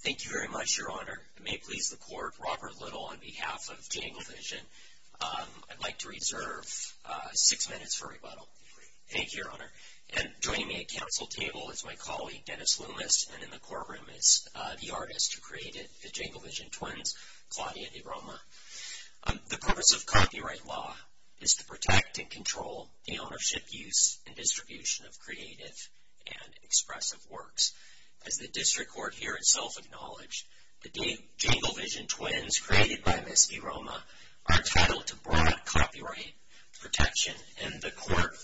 Thank you very much, Your Honor. It may please the Court, Robert Little on behalf of Jangle Vision. I'd like to reserve six minutes for rebuttal. Great. Thank you, Your Honor. And joining me at council table is my colleague, Dennis Loomis, and in the courtroom is the artist who created the Jangle Vision twins, Claudia DeRoma. The purpose of copyright law is to protect and control the ownership, use, and distribution of creative and expressive works. As the district court here itself acknowledged, the Jangle Vision twins created by Ms. DeRoma are titled to broad copyright protection. And the court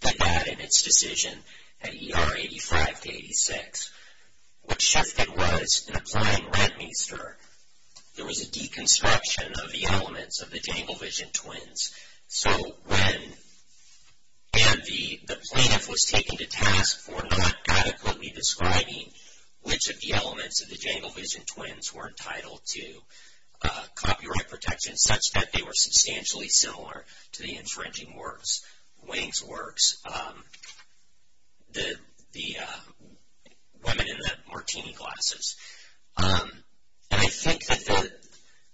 did that in its decision at ER 85-86. What shifted was, in applying rent-me-ster, there was a deconstruction of the elements of the Jangle Vision twins. And the plaintiff was taken to task for not adequately describing which of the elements of the Jangle Vision twins were entitled to copyright protection, such that they were substantially similar to the infringing works, Wang's works, the women in the martini glasses. And I think that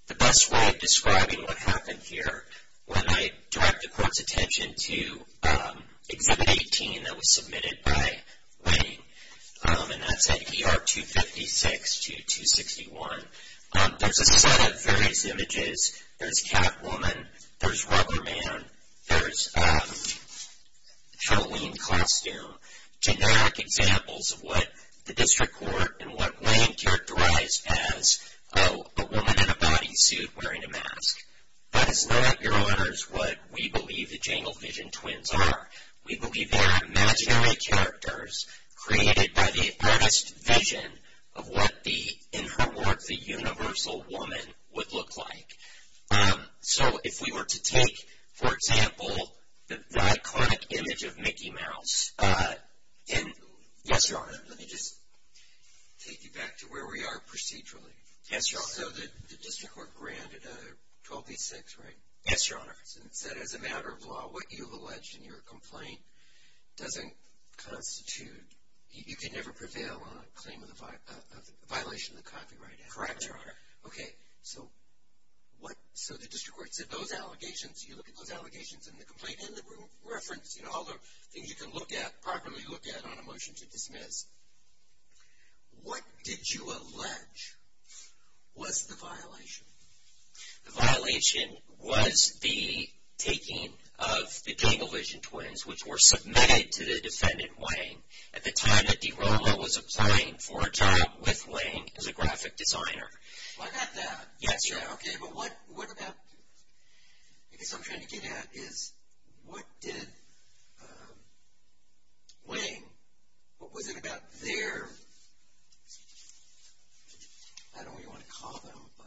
the best way of describing what happened here when I directed the court's attention to Exhibit 18 that was submitted by Wang, and that's at ER 256-261, there's a set of various images. There's Catwoman. There's Rubberman. There's Halloween costume, generic examples of what the district court and what Wang characterized as a woman in a bodysuit wearing a mask. Let us know at your honors what we believe the Jangle Vision twins are. We believe they are imaginary characters created by the artist's vision of what the, in her work, the universal woman would look like. So if we were to take, for example, the iconic image of Mickey Mouse, and yes, Your Honor. Let me just take you back to where we are procedurally. Yes, Your Honor. So the district court granted 1286, right? Yes, Your Honor. And it said as a matter of law, what you've alleged in your complaint doesn't constitute, you can never prevail on a claim of violation of the copyright act. Correct, Your Honor. Okay. So what, so the district court said those allegations, you look at those allegations in the complaint and the reference, all the things you can look at, properly look at on a motion to dismiss. What did you allege was the violation? The violation was the taking of the Jangle Vision twins, which were submitted to the defendant, Wang, at the time that DiRoma was applying for a job with Wang as a graphic designer. Well, I got that. Yes, Your Honor. Okay, but what about, I guess what I'm trying to get at is what did Wang, what was it about their, I don't really want to call them, but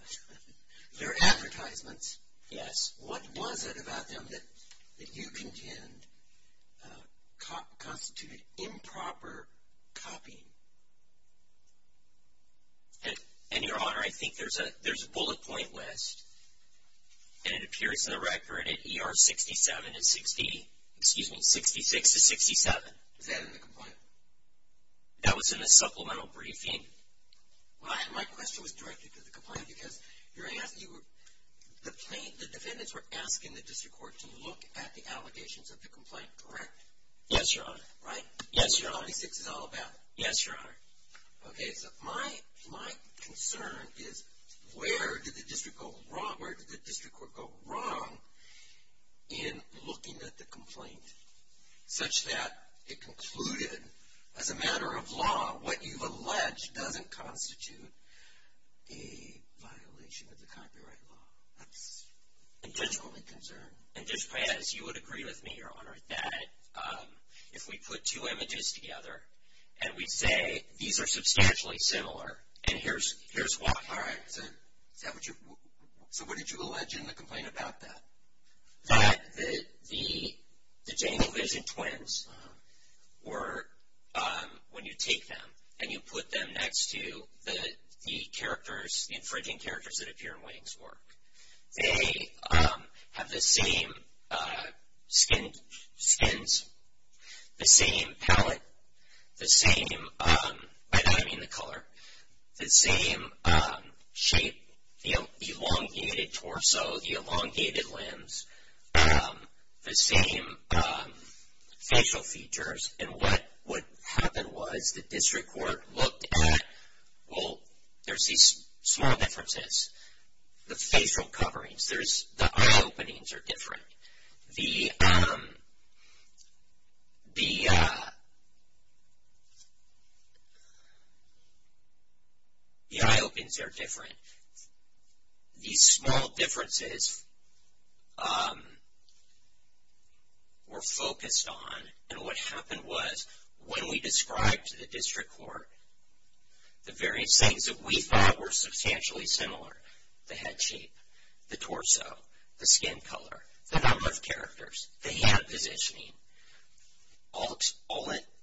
their advertisements. Yes. What was it about them that you contend constituted improper copying? And, Your Honor, I think there's a bullet point list, and it appears in the record at ER 67 and 60, excuse me, 66 to 67. Was that in the complaint? That was in a supplemental briefing. Well, my question was directed to the complaint because you're asking, the plaintiff, the defendants were asking the district court to look at the allegations of the complaint, correct? Yes, Your Honor. Right? Yes, Your Honor. 46 is all about it. Yes, Your Honor. Okay, so my concern is where did the district court go wrong in looking at the complaint such that it concluded, as a matter of law, what you've alleged doesn't constitute a violation of the copyright law? That's my concern. And just as you would agree with me, Your Honor, that if we put two images together and we say these are substantially similar and here's Wang. All right, so what did you allege in the complaint about that? That the Daniel Vision twins were, when you take them and you put them next to the characters, the infringing characters that appear in Wang's work, they have the same skins, the same palate, the same, and I mean the color, the same shape, the elongated torso, the elongated limbs, the same facial features. And what happened was the district court looked at, well, there's these small differences. The facial coverings, the eye openings are different. The eye openings are different. These small differences were focused on and what happened was when we described to the district court the various things that we thought were substantially similar, the head shape, the torso, the skin color, the number of characters, the hand positioning, all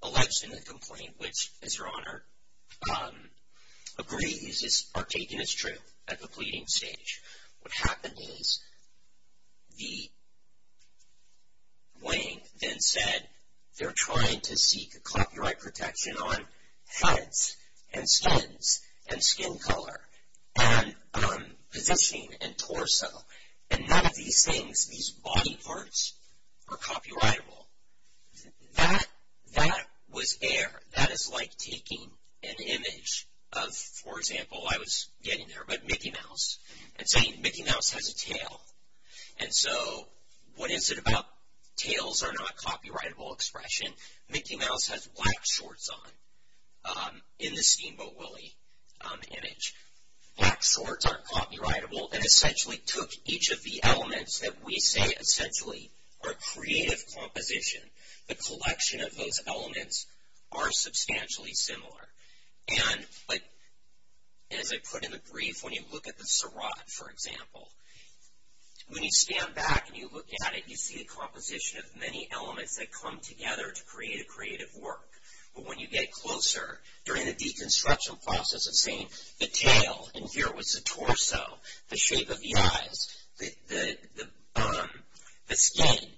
alleged in the complaint which, as Your Honor, agrees are taken as true at the pleading stage. What happened is the, Wang then said they're trying to seek copyright protection on heads and skins and skin color. And positioning and torso and none of these things, these body parts are copyrightable. That was air. That is like taking an image of, for example, I was getting there, but Mickey Mouse and saying Mickey Mouse has a tail. And so what is it about tails are not copyrightable expression? Mickey Mouse has black shorts on in the Steamboat Willie image. Black shorts are copyrightable and essentially took each of the elements that we say essentially are creative composition. The collection of those elements are substantially similar. And as I put in the brief, when you look at the Sarat, for example, when you stand back and you look at it, you see a composition of many elements that come together to create a creative work. But when you get closer, during the deconstruction process of saying the tail, and here it was the torso, the shape of the eyes, the skin,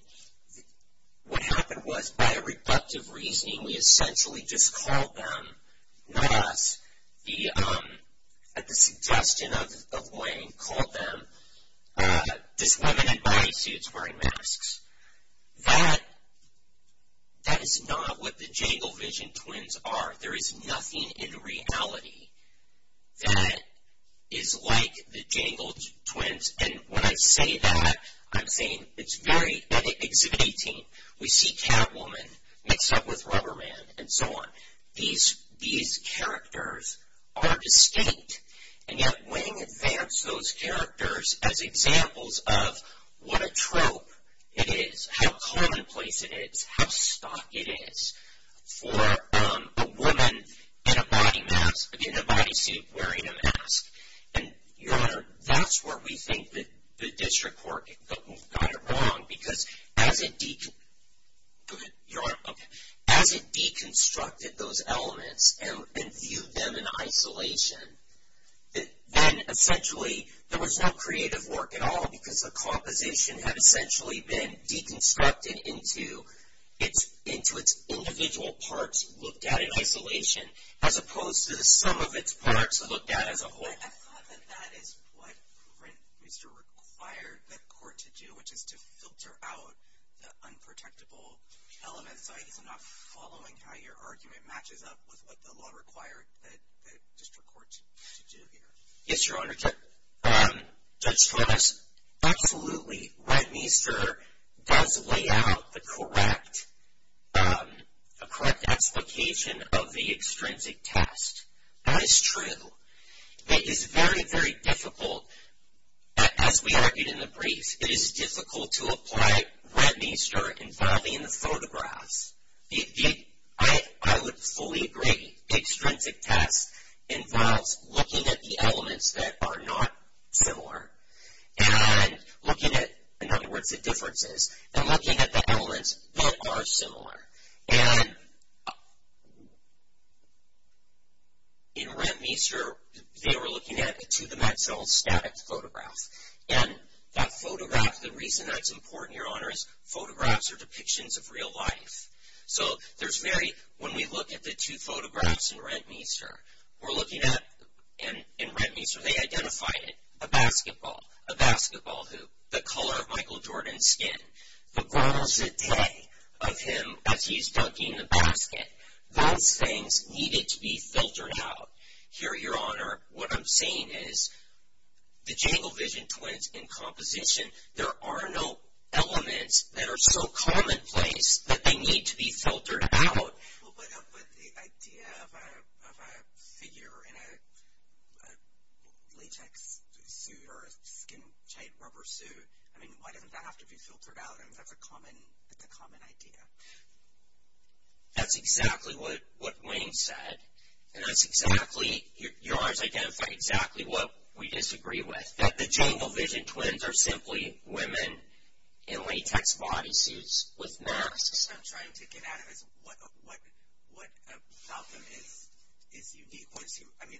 what happened was by a reductive reasoning we essentially just called them, not us, at the suggestion of Wayne, called them dislimited body suits wearing masks. That is not what the Django vision twins are. There is nothing in reality that is like the Django twins. And when I say that, I'm saying it's very exhibiting. We see Catwoman mixed up with Rubberman and so on. And these characters are distinct. And yet Wayne advanced those characters as examples of what a trope it is, how commonplace it is, how stock it is for a woman in a body suit wearing a mask. And, Your Honor, that's where we think the district court got it wrong because as it deconstructed those elements and viewed them in isolation, then essentially there was no creative work at all because the composition had essentially been deconstructed into its individual parts looked at in isolation as opposed to the sum of its parts looked at as a whole. I thought that that is what Rentmeister required the court to do, which is to filter out the unprotectable elements. I guess I'm not following how your argument matches up with what the law required the district court to do here. Yes, Your Honor. Judge Stronis, absolutely, Rentmeister does lay out the correct explication of the extrinsic test. That is true. It is very, very difficult, as we argued in the brief, it is difficult to apply Rentmeister involving the photographs. I would fully agree. The extrinsic test involves looking at the elements that are not similar and looking at, in other words, the differences, and looking at the elements that are similar. And in Rentmeister, they were looking at a two-dimensional static photograph. And that photograph, the reason that's important, Your Honor, is photographs are depictions of real life. So, there's very, when we look at the two photographs in Rentmeister, we're looking at, in Rentmeister, they identified it. A basketball, a basketball hoop, the color of Michael Jordan's skin, the grand jete of him as he's dunking the basket. Those things needed to be filtered out. Here, Your Honor, what I'm saying is the jangle vision twins in composition, there are no elements that are so commonplace that they need to be filtered out. Well, but the idea of a figure in a latex suit or a skin tight rubber suit, I mean, why doesn't that have to be filtered out? I mean, that's a common, that's a common idea. That's exactly what Wayne said. And that's exactly, Your Honor's identifying exactly what we disagree with. That the jangle vision twins are simply women in latex body suits with masks. I'm trying to get at it as what about them is unique. I mean,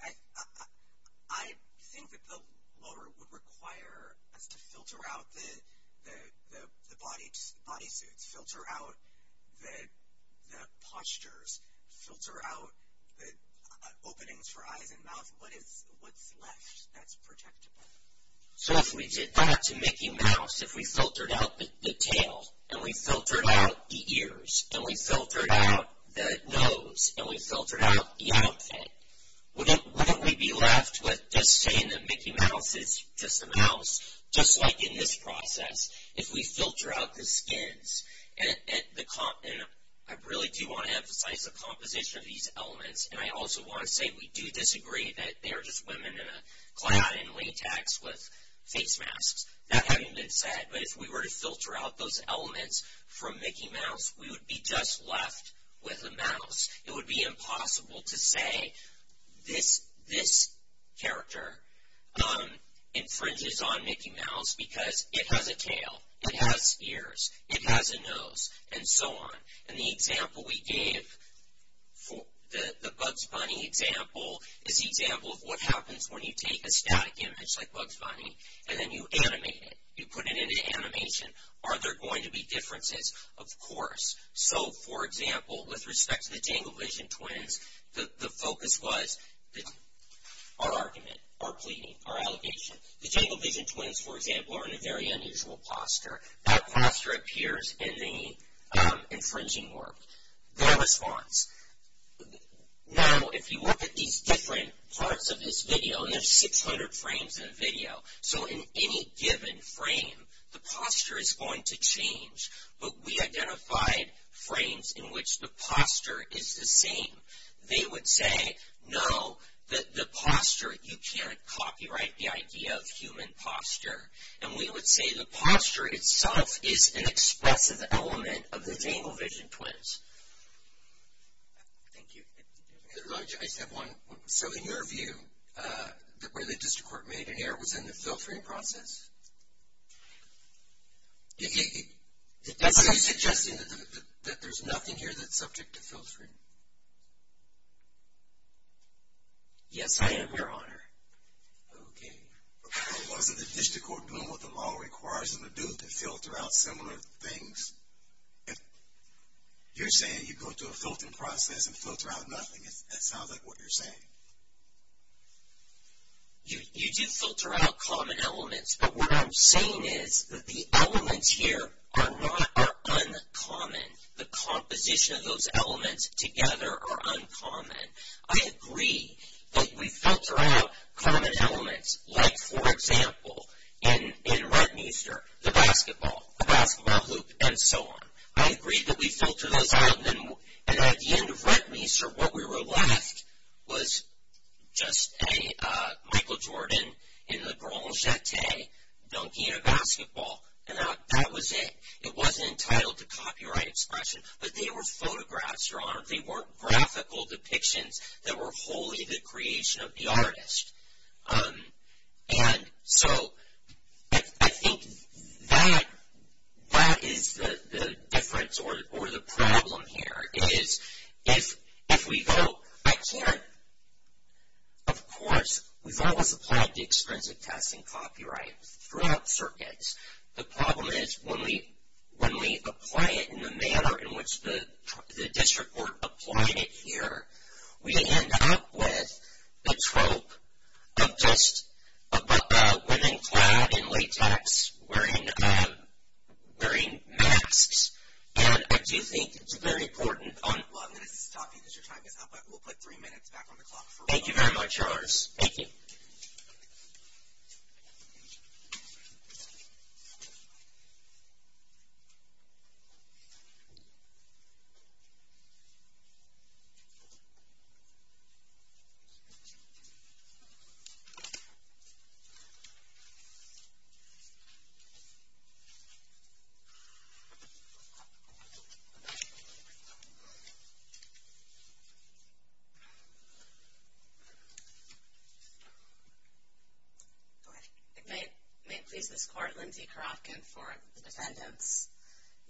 I think that the law would require us to filter out the body suits, filter out the postures, filter out the openings for eyes and mouth. What is, what's left that's protectable? So if we did that to Mickey Mouse, if we filtered out the tail, and we filtered out the ears, and we filtered out the nose, and we filtered out the outfit, wouldn't we be left with just saying that Mickey Mouse is just a mouse? Just like in this process, if we filter out the skins, and I really do want to emphasize the composition of these elements, and I also want to say we do disagree that they are just women in a cloud in latex with face masks. That having been said, but if we were to filter out those elements from Mickey Mouse, we would be just left with a mouse. It would be impossible to say this, this character infringes on Mickey Mouse because it has a tail, it has ears, it has a nose, and so on. And the example we gave, the Bugs Bunny example, is the example of what happens when you take a static image like Bugs Bunny, and then you animate it. You put it in an animation. Are there going to be differences? Of course. So, for example, with respect to the Danglevision twins, the focus was our argument, our pleading, our allegation. The Danglevision twins, for example, are in a very unusual posture. That posture appears in the infringing work. Their response. Now, if you look at these different parts of this video, and there's 600 frames in a video, so in any given frame, the posture is going to change. But we identified frames in which the posture is the same. They would say, no, the posture, you can't copyright the idea of human posture. And we would say the posture itself is an expressive element of the Danglevision twins. Thank you. I just have one. So, in your view, where the district court made an error was in the filtering process? Are you suggesting that there's nothing here that's subject to filtering? Yes, I am, Your Honor. Okay. Or was it the district court doing what the law requires them to do, to filter out similar things? You're saying you go through a filtering process and filter out nothing. That sounds like what you're saying. You do filter out common elements. But what I'm saying is that the elements here are uncommon. The composition of those elements together are uncommon. I agree that we filter out common elements, like, for example, in Rentmeester, the basketball, the basketball hoop, and so on. I agree that we filter those out. And at the end of Rentmeester, what we were left was just a Michael Jordan in the Grand Jeté dunking a basketball. And that was it. It wasn't entitled to copyright expression. But there were photographs, Your Honor. There were graphical depictions that were wholly the creation of the artist. And so I think that is the difference or the problem here, is if we vote, I can't, of course, we've always applied the extrinsic testing copyright throughout circuits. The problem is when we apply it in the manner in which the district were applying it here, we end up with a trope of just a woman clad in latex wearing masks. And I do think it's very important. Well, I'm going to stop you because your time is up. We'll put three minutes back on the clock. Thank you very much, Yours. Thank you. Thank you. Thank you.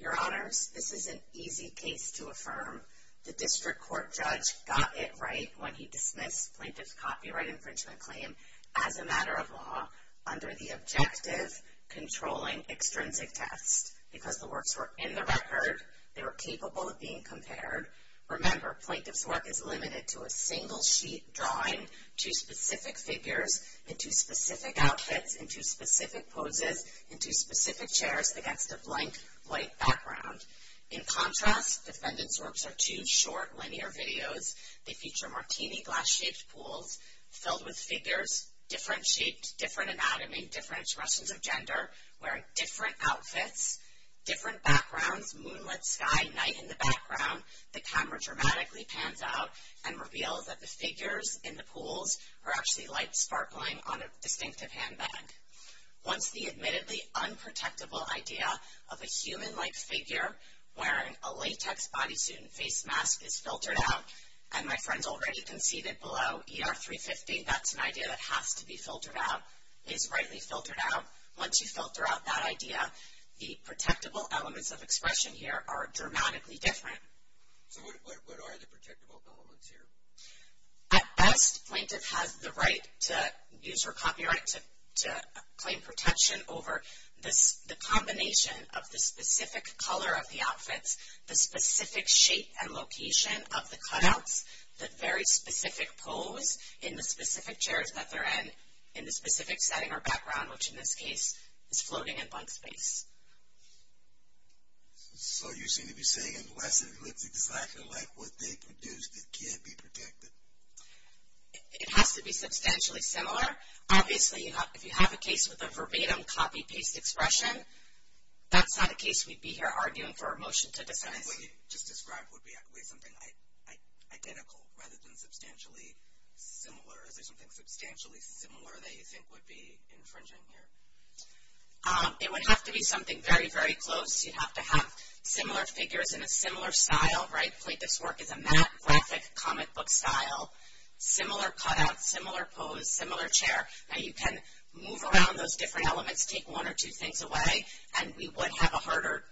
Your Honors, this is an easy case to affirm. The district court judge got it right when he dismissed plaintiff's copyright infringement claim as a matter of law under the objective controlling extrinsic test. Because the works were in the record. They were capable of being compared. Remember, plaintiff's work is limited to a single sheet drawing two specific figures into specific outfits, into specific poses, into specific chairs against a blank white background. In contrast, defendant's works are two short linear videos. They feature martini glass-shaped pools filled with figures, different shapes, different anatomy, different expressions of gender, wearing different outfits, different backgrounds, moonlit sky, night in the background. The camera dramatically pans out and reveals that the figures in the pools are actually light sparkling on a distinctive handbag. Once the admittedly unprotectable idea of a human-like figure wearing a latex bodysuit and face mask is filtered out, and my friends already conceded below ER 350, that's an idea that has to be filtered out, is rightly filtered out. Once you filter out that idea, the protectable elements of expression here are dramatically different. So what are the protectable elements here? At best, plaintiff has the right to use her copyright to claim protection over the combination of the specific color of the outfits, the specific shape and location of the cutouts, the very specific pose in the specific chairs that they're in, in the specific setting or background, which in this case is floating in blank space. So you seem to be saying unless it looks exactly like what they produced, it can't be protected? It has to be substantially similar. Obviously, if you have a case with a verbatim copy-paste expression, that's not a case we'd be here arguing for a motion to decide. And what you just described would be something identical rather than substantially similar. Is there something substantially similar that you think would be infringing here? It would have to be something very, very close. You'd have to have similar figures in a similar style, right? Plaintiff's work is a map graphic comic book style. Similar cutouts, similar pose, similar chair. Now you can move around those different elements, take one or two things away, and we would have a harder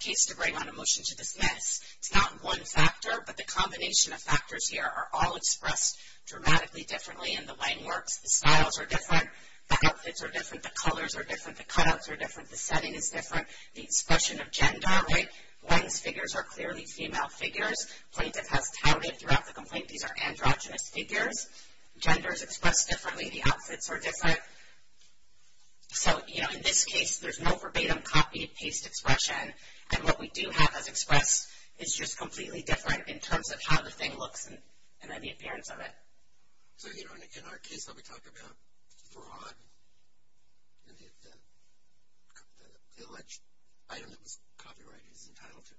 case to bring on a motion to dismiss. It's not one factor, but the combination of factors here are all expressed dramatically differently in the way it works. The styles are different. The outfits are different. The colors are different. The cutouts are different. The setting is different. The expression of gender, right? One's figures are clearly female figures. Plaintiff has touted throughout the complaint these are androgynous figures. Gender is expressed differently. The outfits are different. So, you know, in this case, there's no verbatim copy-paste expression. And what we do have as expressed is just completely different in terms of how the thing looks and then the appearance of it. So, you know, in our case, when we talk about fraud, the alleged item that was copyrighted is entitled to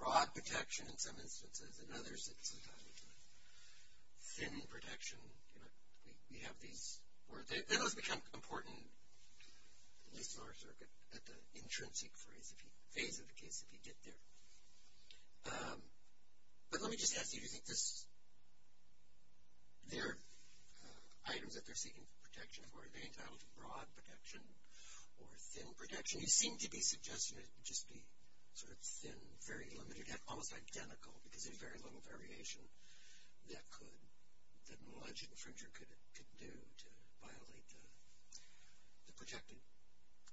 fraud protection in some instances, and others it's entitled to thin protection. You know, we have these words. Those become important, at least in our circuit, at the intrinsic phase of the case if you get there. But let me just ask you, do you think this, their items that they're seeking protection for, are they entitled to broad protection or thin protection? You seem to be suggesting it would just be sort of thin, very limited, almost identical because there's very little variation that could, that an alleged infringer could do to violate the protected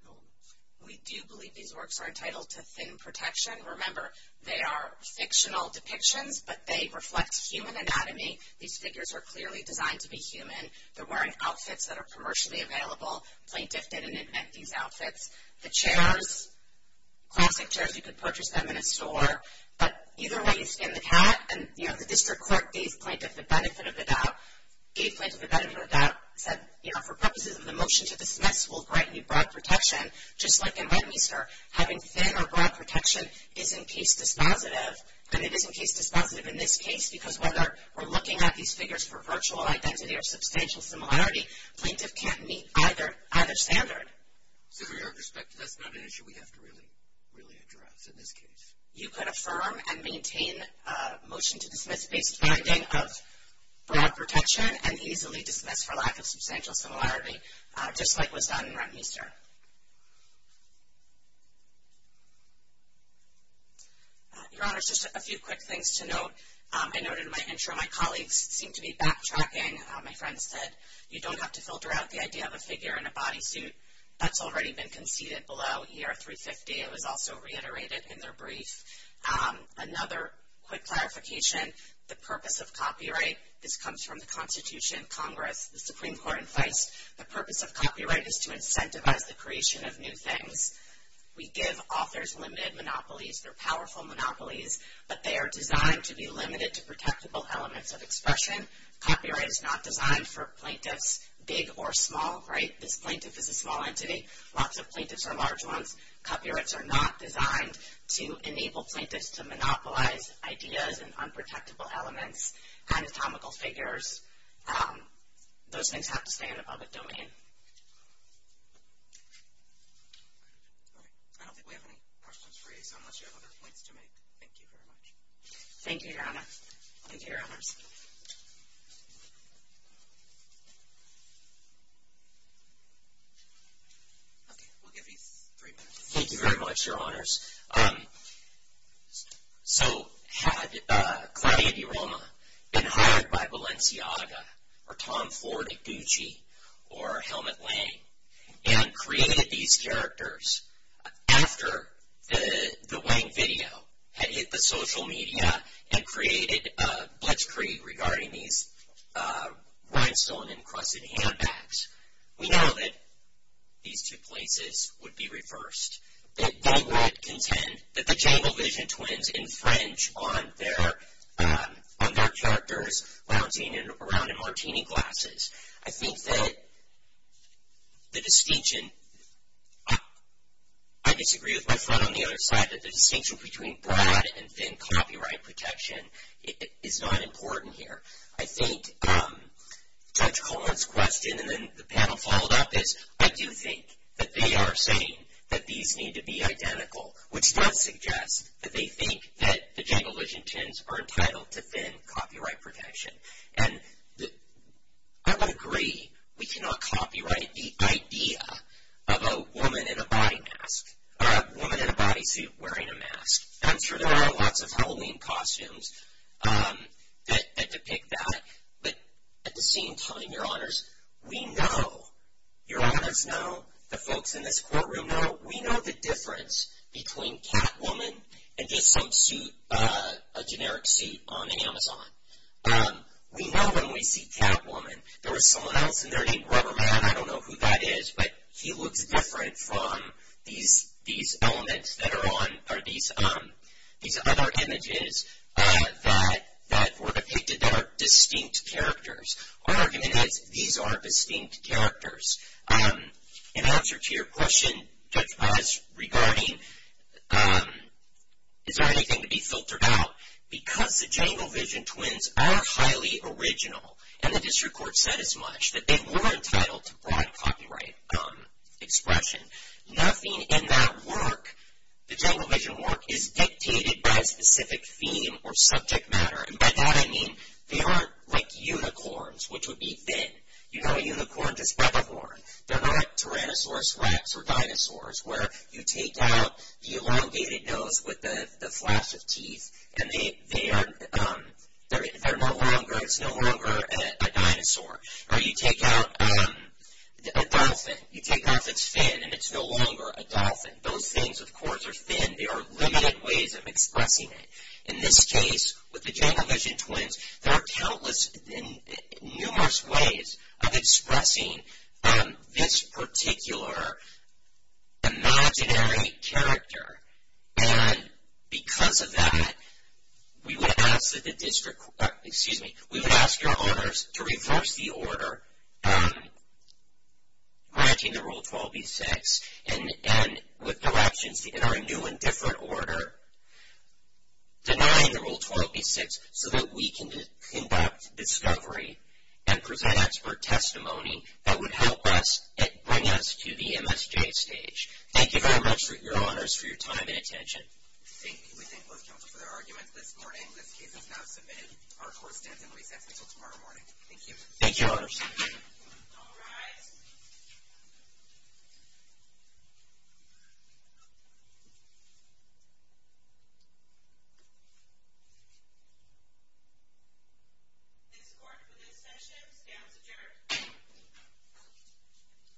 elements. We do believe these works are entitled to thin protection. Remember, they are fictional depictions, but they reflect human anatomy. These figures are clearly designed to be human. They're wearing outfits that are commercially available. Plaintiff didn't invent these outfits. The chairs, classic chairs, you could purchase them in a store. But either way, you skin the cat. And, you know, the district clerk gave plaintiff the benefit of the doubt. Gave plaintiff the benefit of the doubt. Said, you know, for purposes of the motion to dismiss, we'll grant you broad protection. Just like in Westminster, having thin or broad protection is in case dispositive, and it is in case dispositive in this case because whether we're looking at these figures for virtual identity or substantial similarity, plaintiff can't meet either standard. So from your perspective, that's not an issue we have to really address in this case? You could affirm and maintain a motion to dismiss-based finding of broad protection and easily dismiss for lack of substantial similarity, just like was done in Westminster. Your Honors, just a few quick things to note. I noted in my intro my colleagues seem to be backtracking. My friend said, you don't have to filter out the idea of a figure in a bodysuit. That's already been conceded below ER 350. It was also reiterated in their brief. Another quick clarification, the purpose of copyright, this comes from the Constitution, Congress, the Supreme Court in place. The purpose of copyright is to incentivize the creation of new things. We give authors limited monopolies. They're powerful monopolies, but they are designed to be limited to protectable elements of expression. Copyright is not designed for plaintiffs, big or small, right? This plaintiff is a small entity. Lots of plaintiffs are large ones. Copyrights are not designed to enable plaintiffs to monopolize ideas and unprotectable elements, anatomical figures. Those things have to stay in a public domain. All right. I don't think we have any questions for you, so unless you have other points to make, thank you very much. Thank you, Your Honor. Thank you, Your Honors. Okay. We'll give you three minutes. Thank you very much, Your Honors. So had Claudia DeRoma been hired by Valencia Aga or Tom Ford at Gucci or Helmut Lang and created these characters after the Lang video had hit the social media and created a blitzkrieg regarding these rhinestone encrusted handbags, we know that these two places would be reversed, that they would contend that the Django Vision twins infringe on their characters lounging around in martini glasses. I think that the distinction, I disagree with my friend on the other side, that the distinction between Brad and thin copyright protection is not important here. I think Judge Colon's question, and then the panel followed up, is I do think that they are saying that these need to be identical, which does suggest that they think that the Django Vision twins are entitled to thin copyright protection. And I would agree we cannot copyright the idea of a woman in a body suit wearing a mask. I'm sure there are lots of Halloween costumes that depict that. But at the same time, Your Honors, we know, Your Honors know, the folks in this courtroom know, we know the difference between Catwoman and just some suit, a generic suit on Amazon. We know when we see Catwoman, there was someone else in there named Rubberman, I don't know who that is, but he looks different from these elements that are on, or these other images that were depicted that are distinct characters. Our argument is these are distinct characters. In answer to your question, Judge Paz, regarding, is there anything to be filtered out? Because the Django Vision twins are highly original, and the district court said as much, that they were entitled to broad copyright expression. Nothing in that work, the Django Vision work, is dictated by a specific theme or subject matter. And by that I mean they aren't like unicorns, which would be thin. You know a unicorn just by the horn. They're not Tyrannosaurus rex or dinosaurs where you take out the elongated nose with the flash of teeth and they are no longer, it's no longer a dinosaur. Or you take out a dolphin, you take off its fin and it's no longer a dolphin. Those things of course are thin, there are limited ways of expressing it. In this case, with the Django Vision twins, there are countless, numerous ways of expressing this particular imaginary character. And because of that, we would ask that the district court, excuse me, we would ask your orders to reverse the order granting the Rule 12b-6 and with directions in our new and different order denying the Rule 12b-6 so that we can conduct discovery and present expert testimony that would help us and bring us to the MSJ stage. Thank you very much, Your Honors, for your time and attention. Thank you. We thank both counties for their arguments this morning. This case is now submitted. Our court stands in recess until tomorrow morning. Thank you. Thank you, Your Honors. All rise. This court for this session stands adjourned.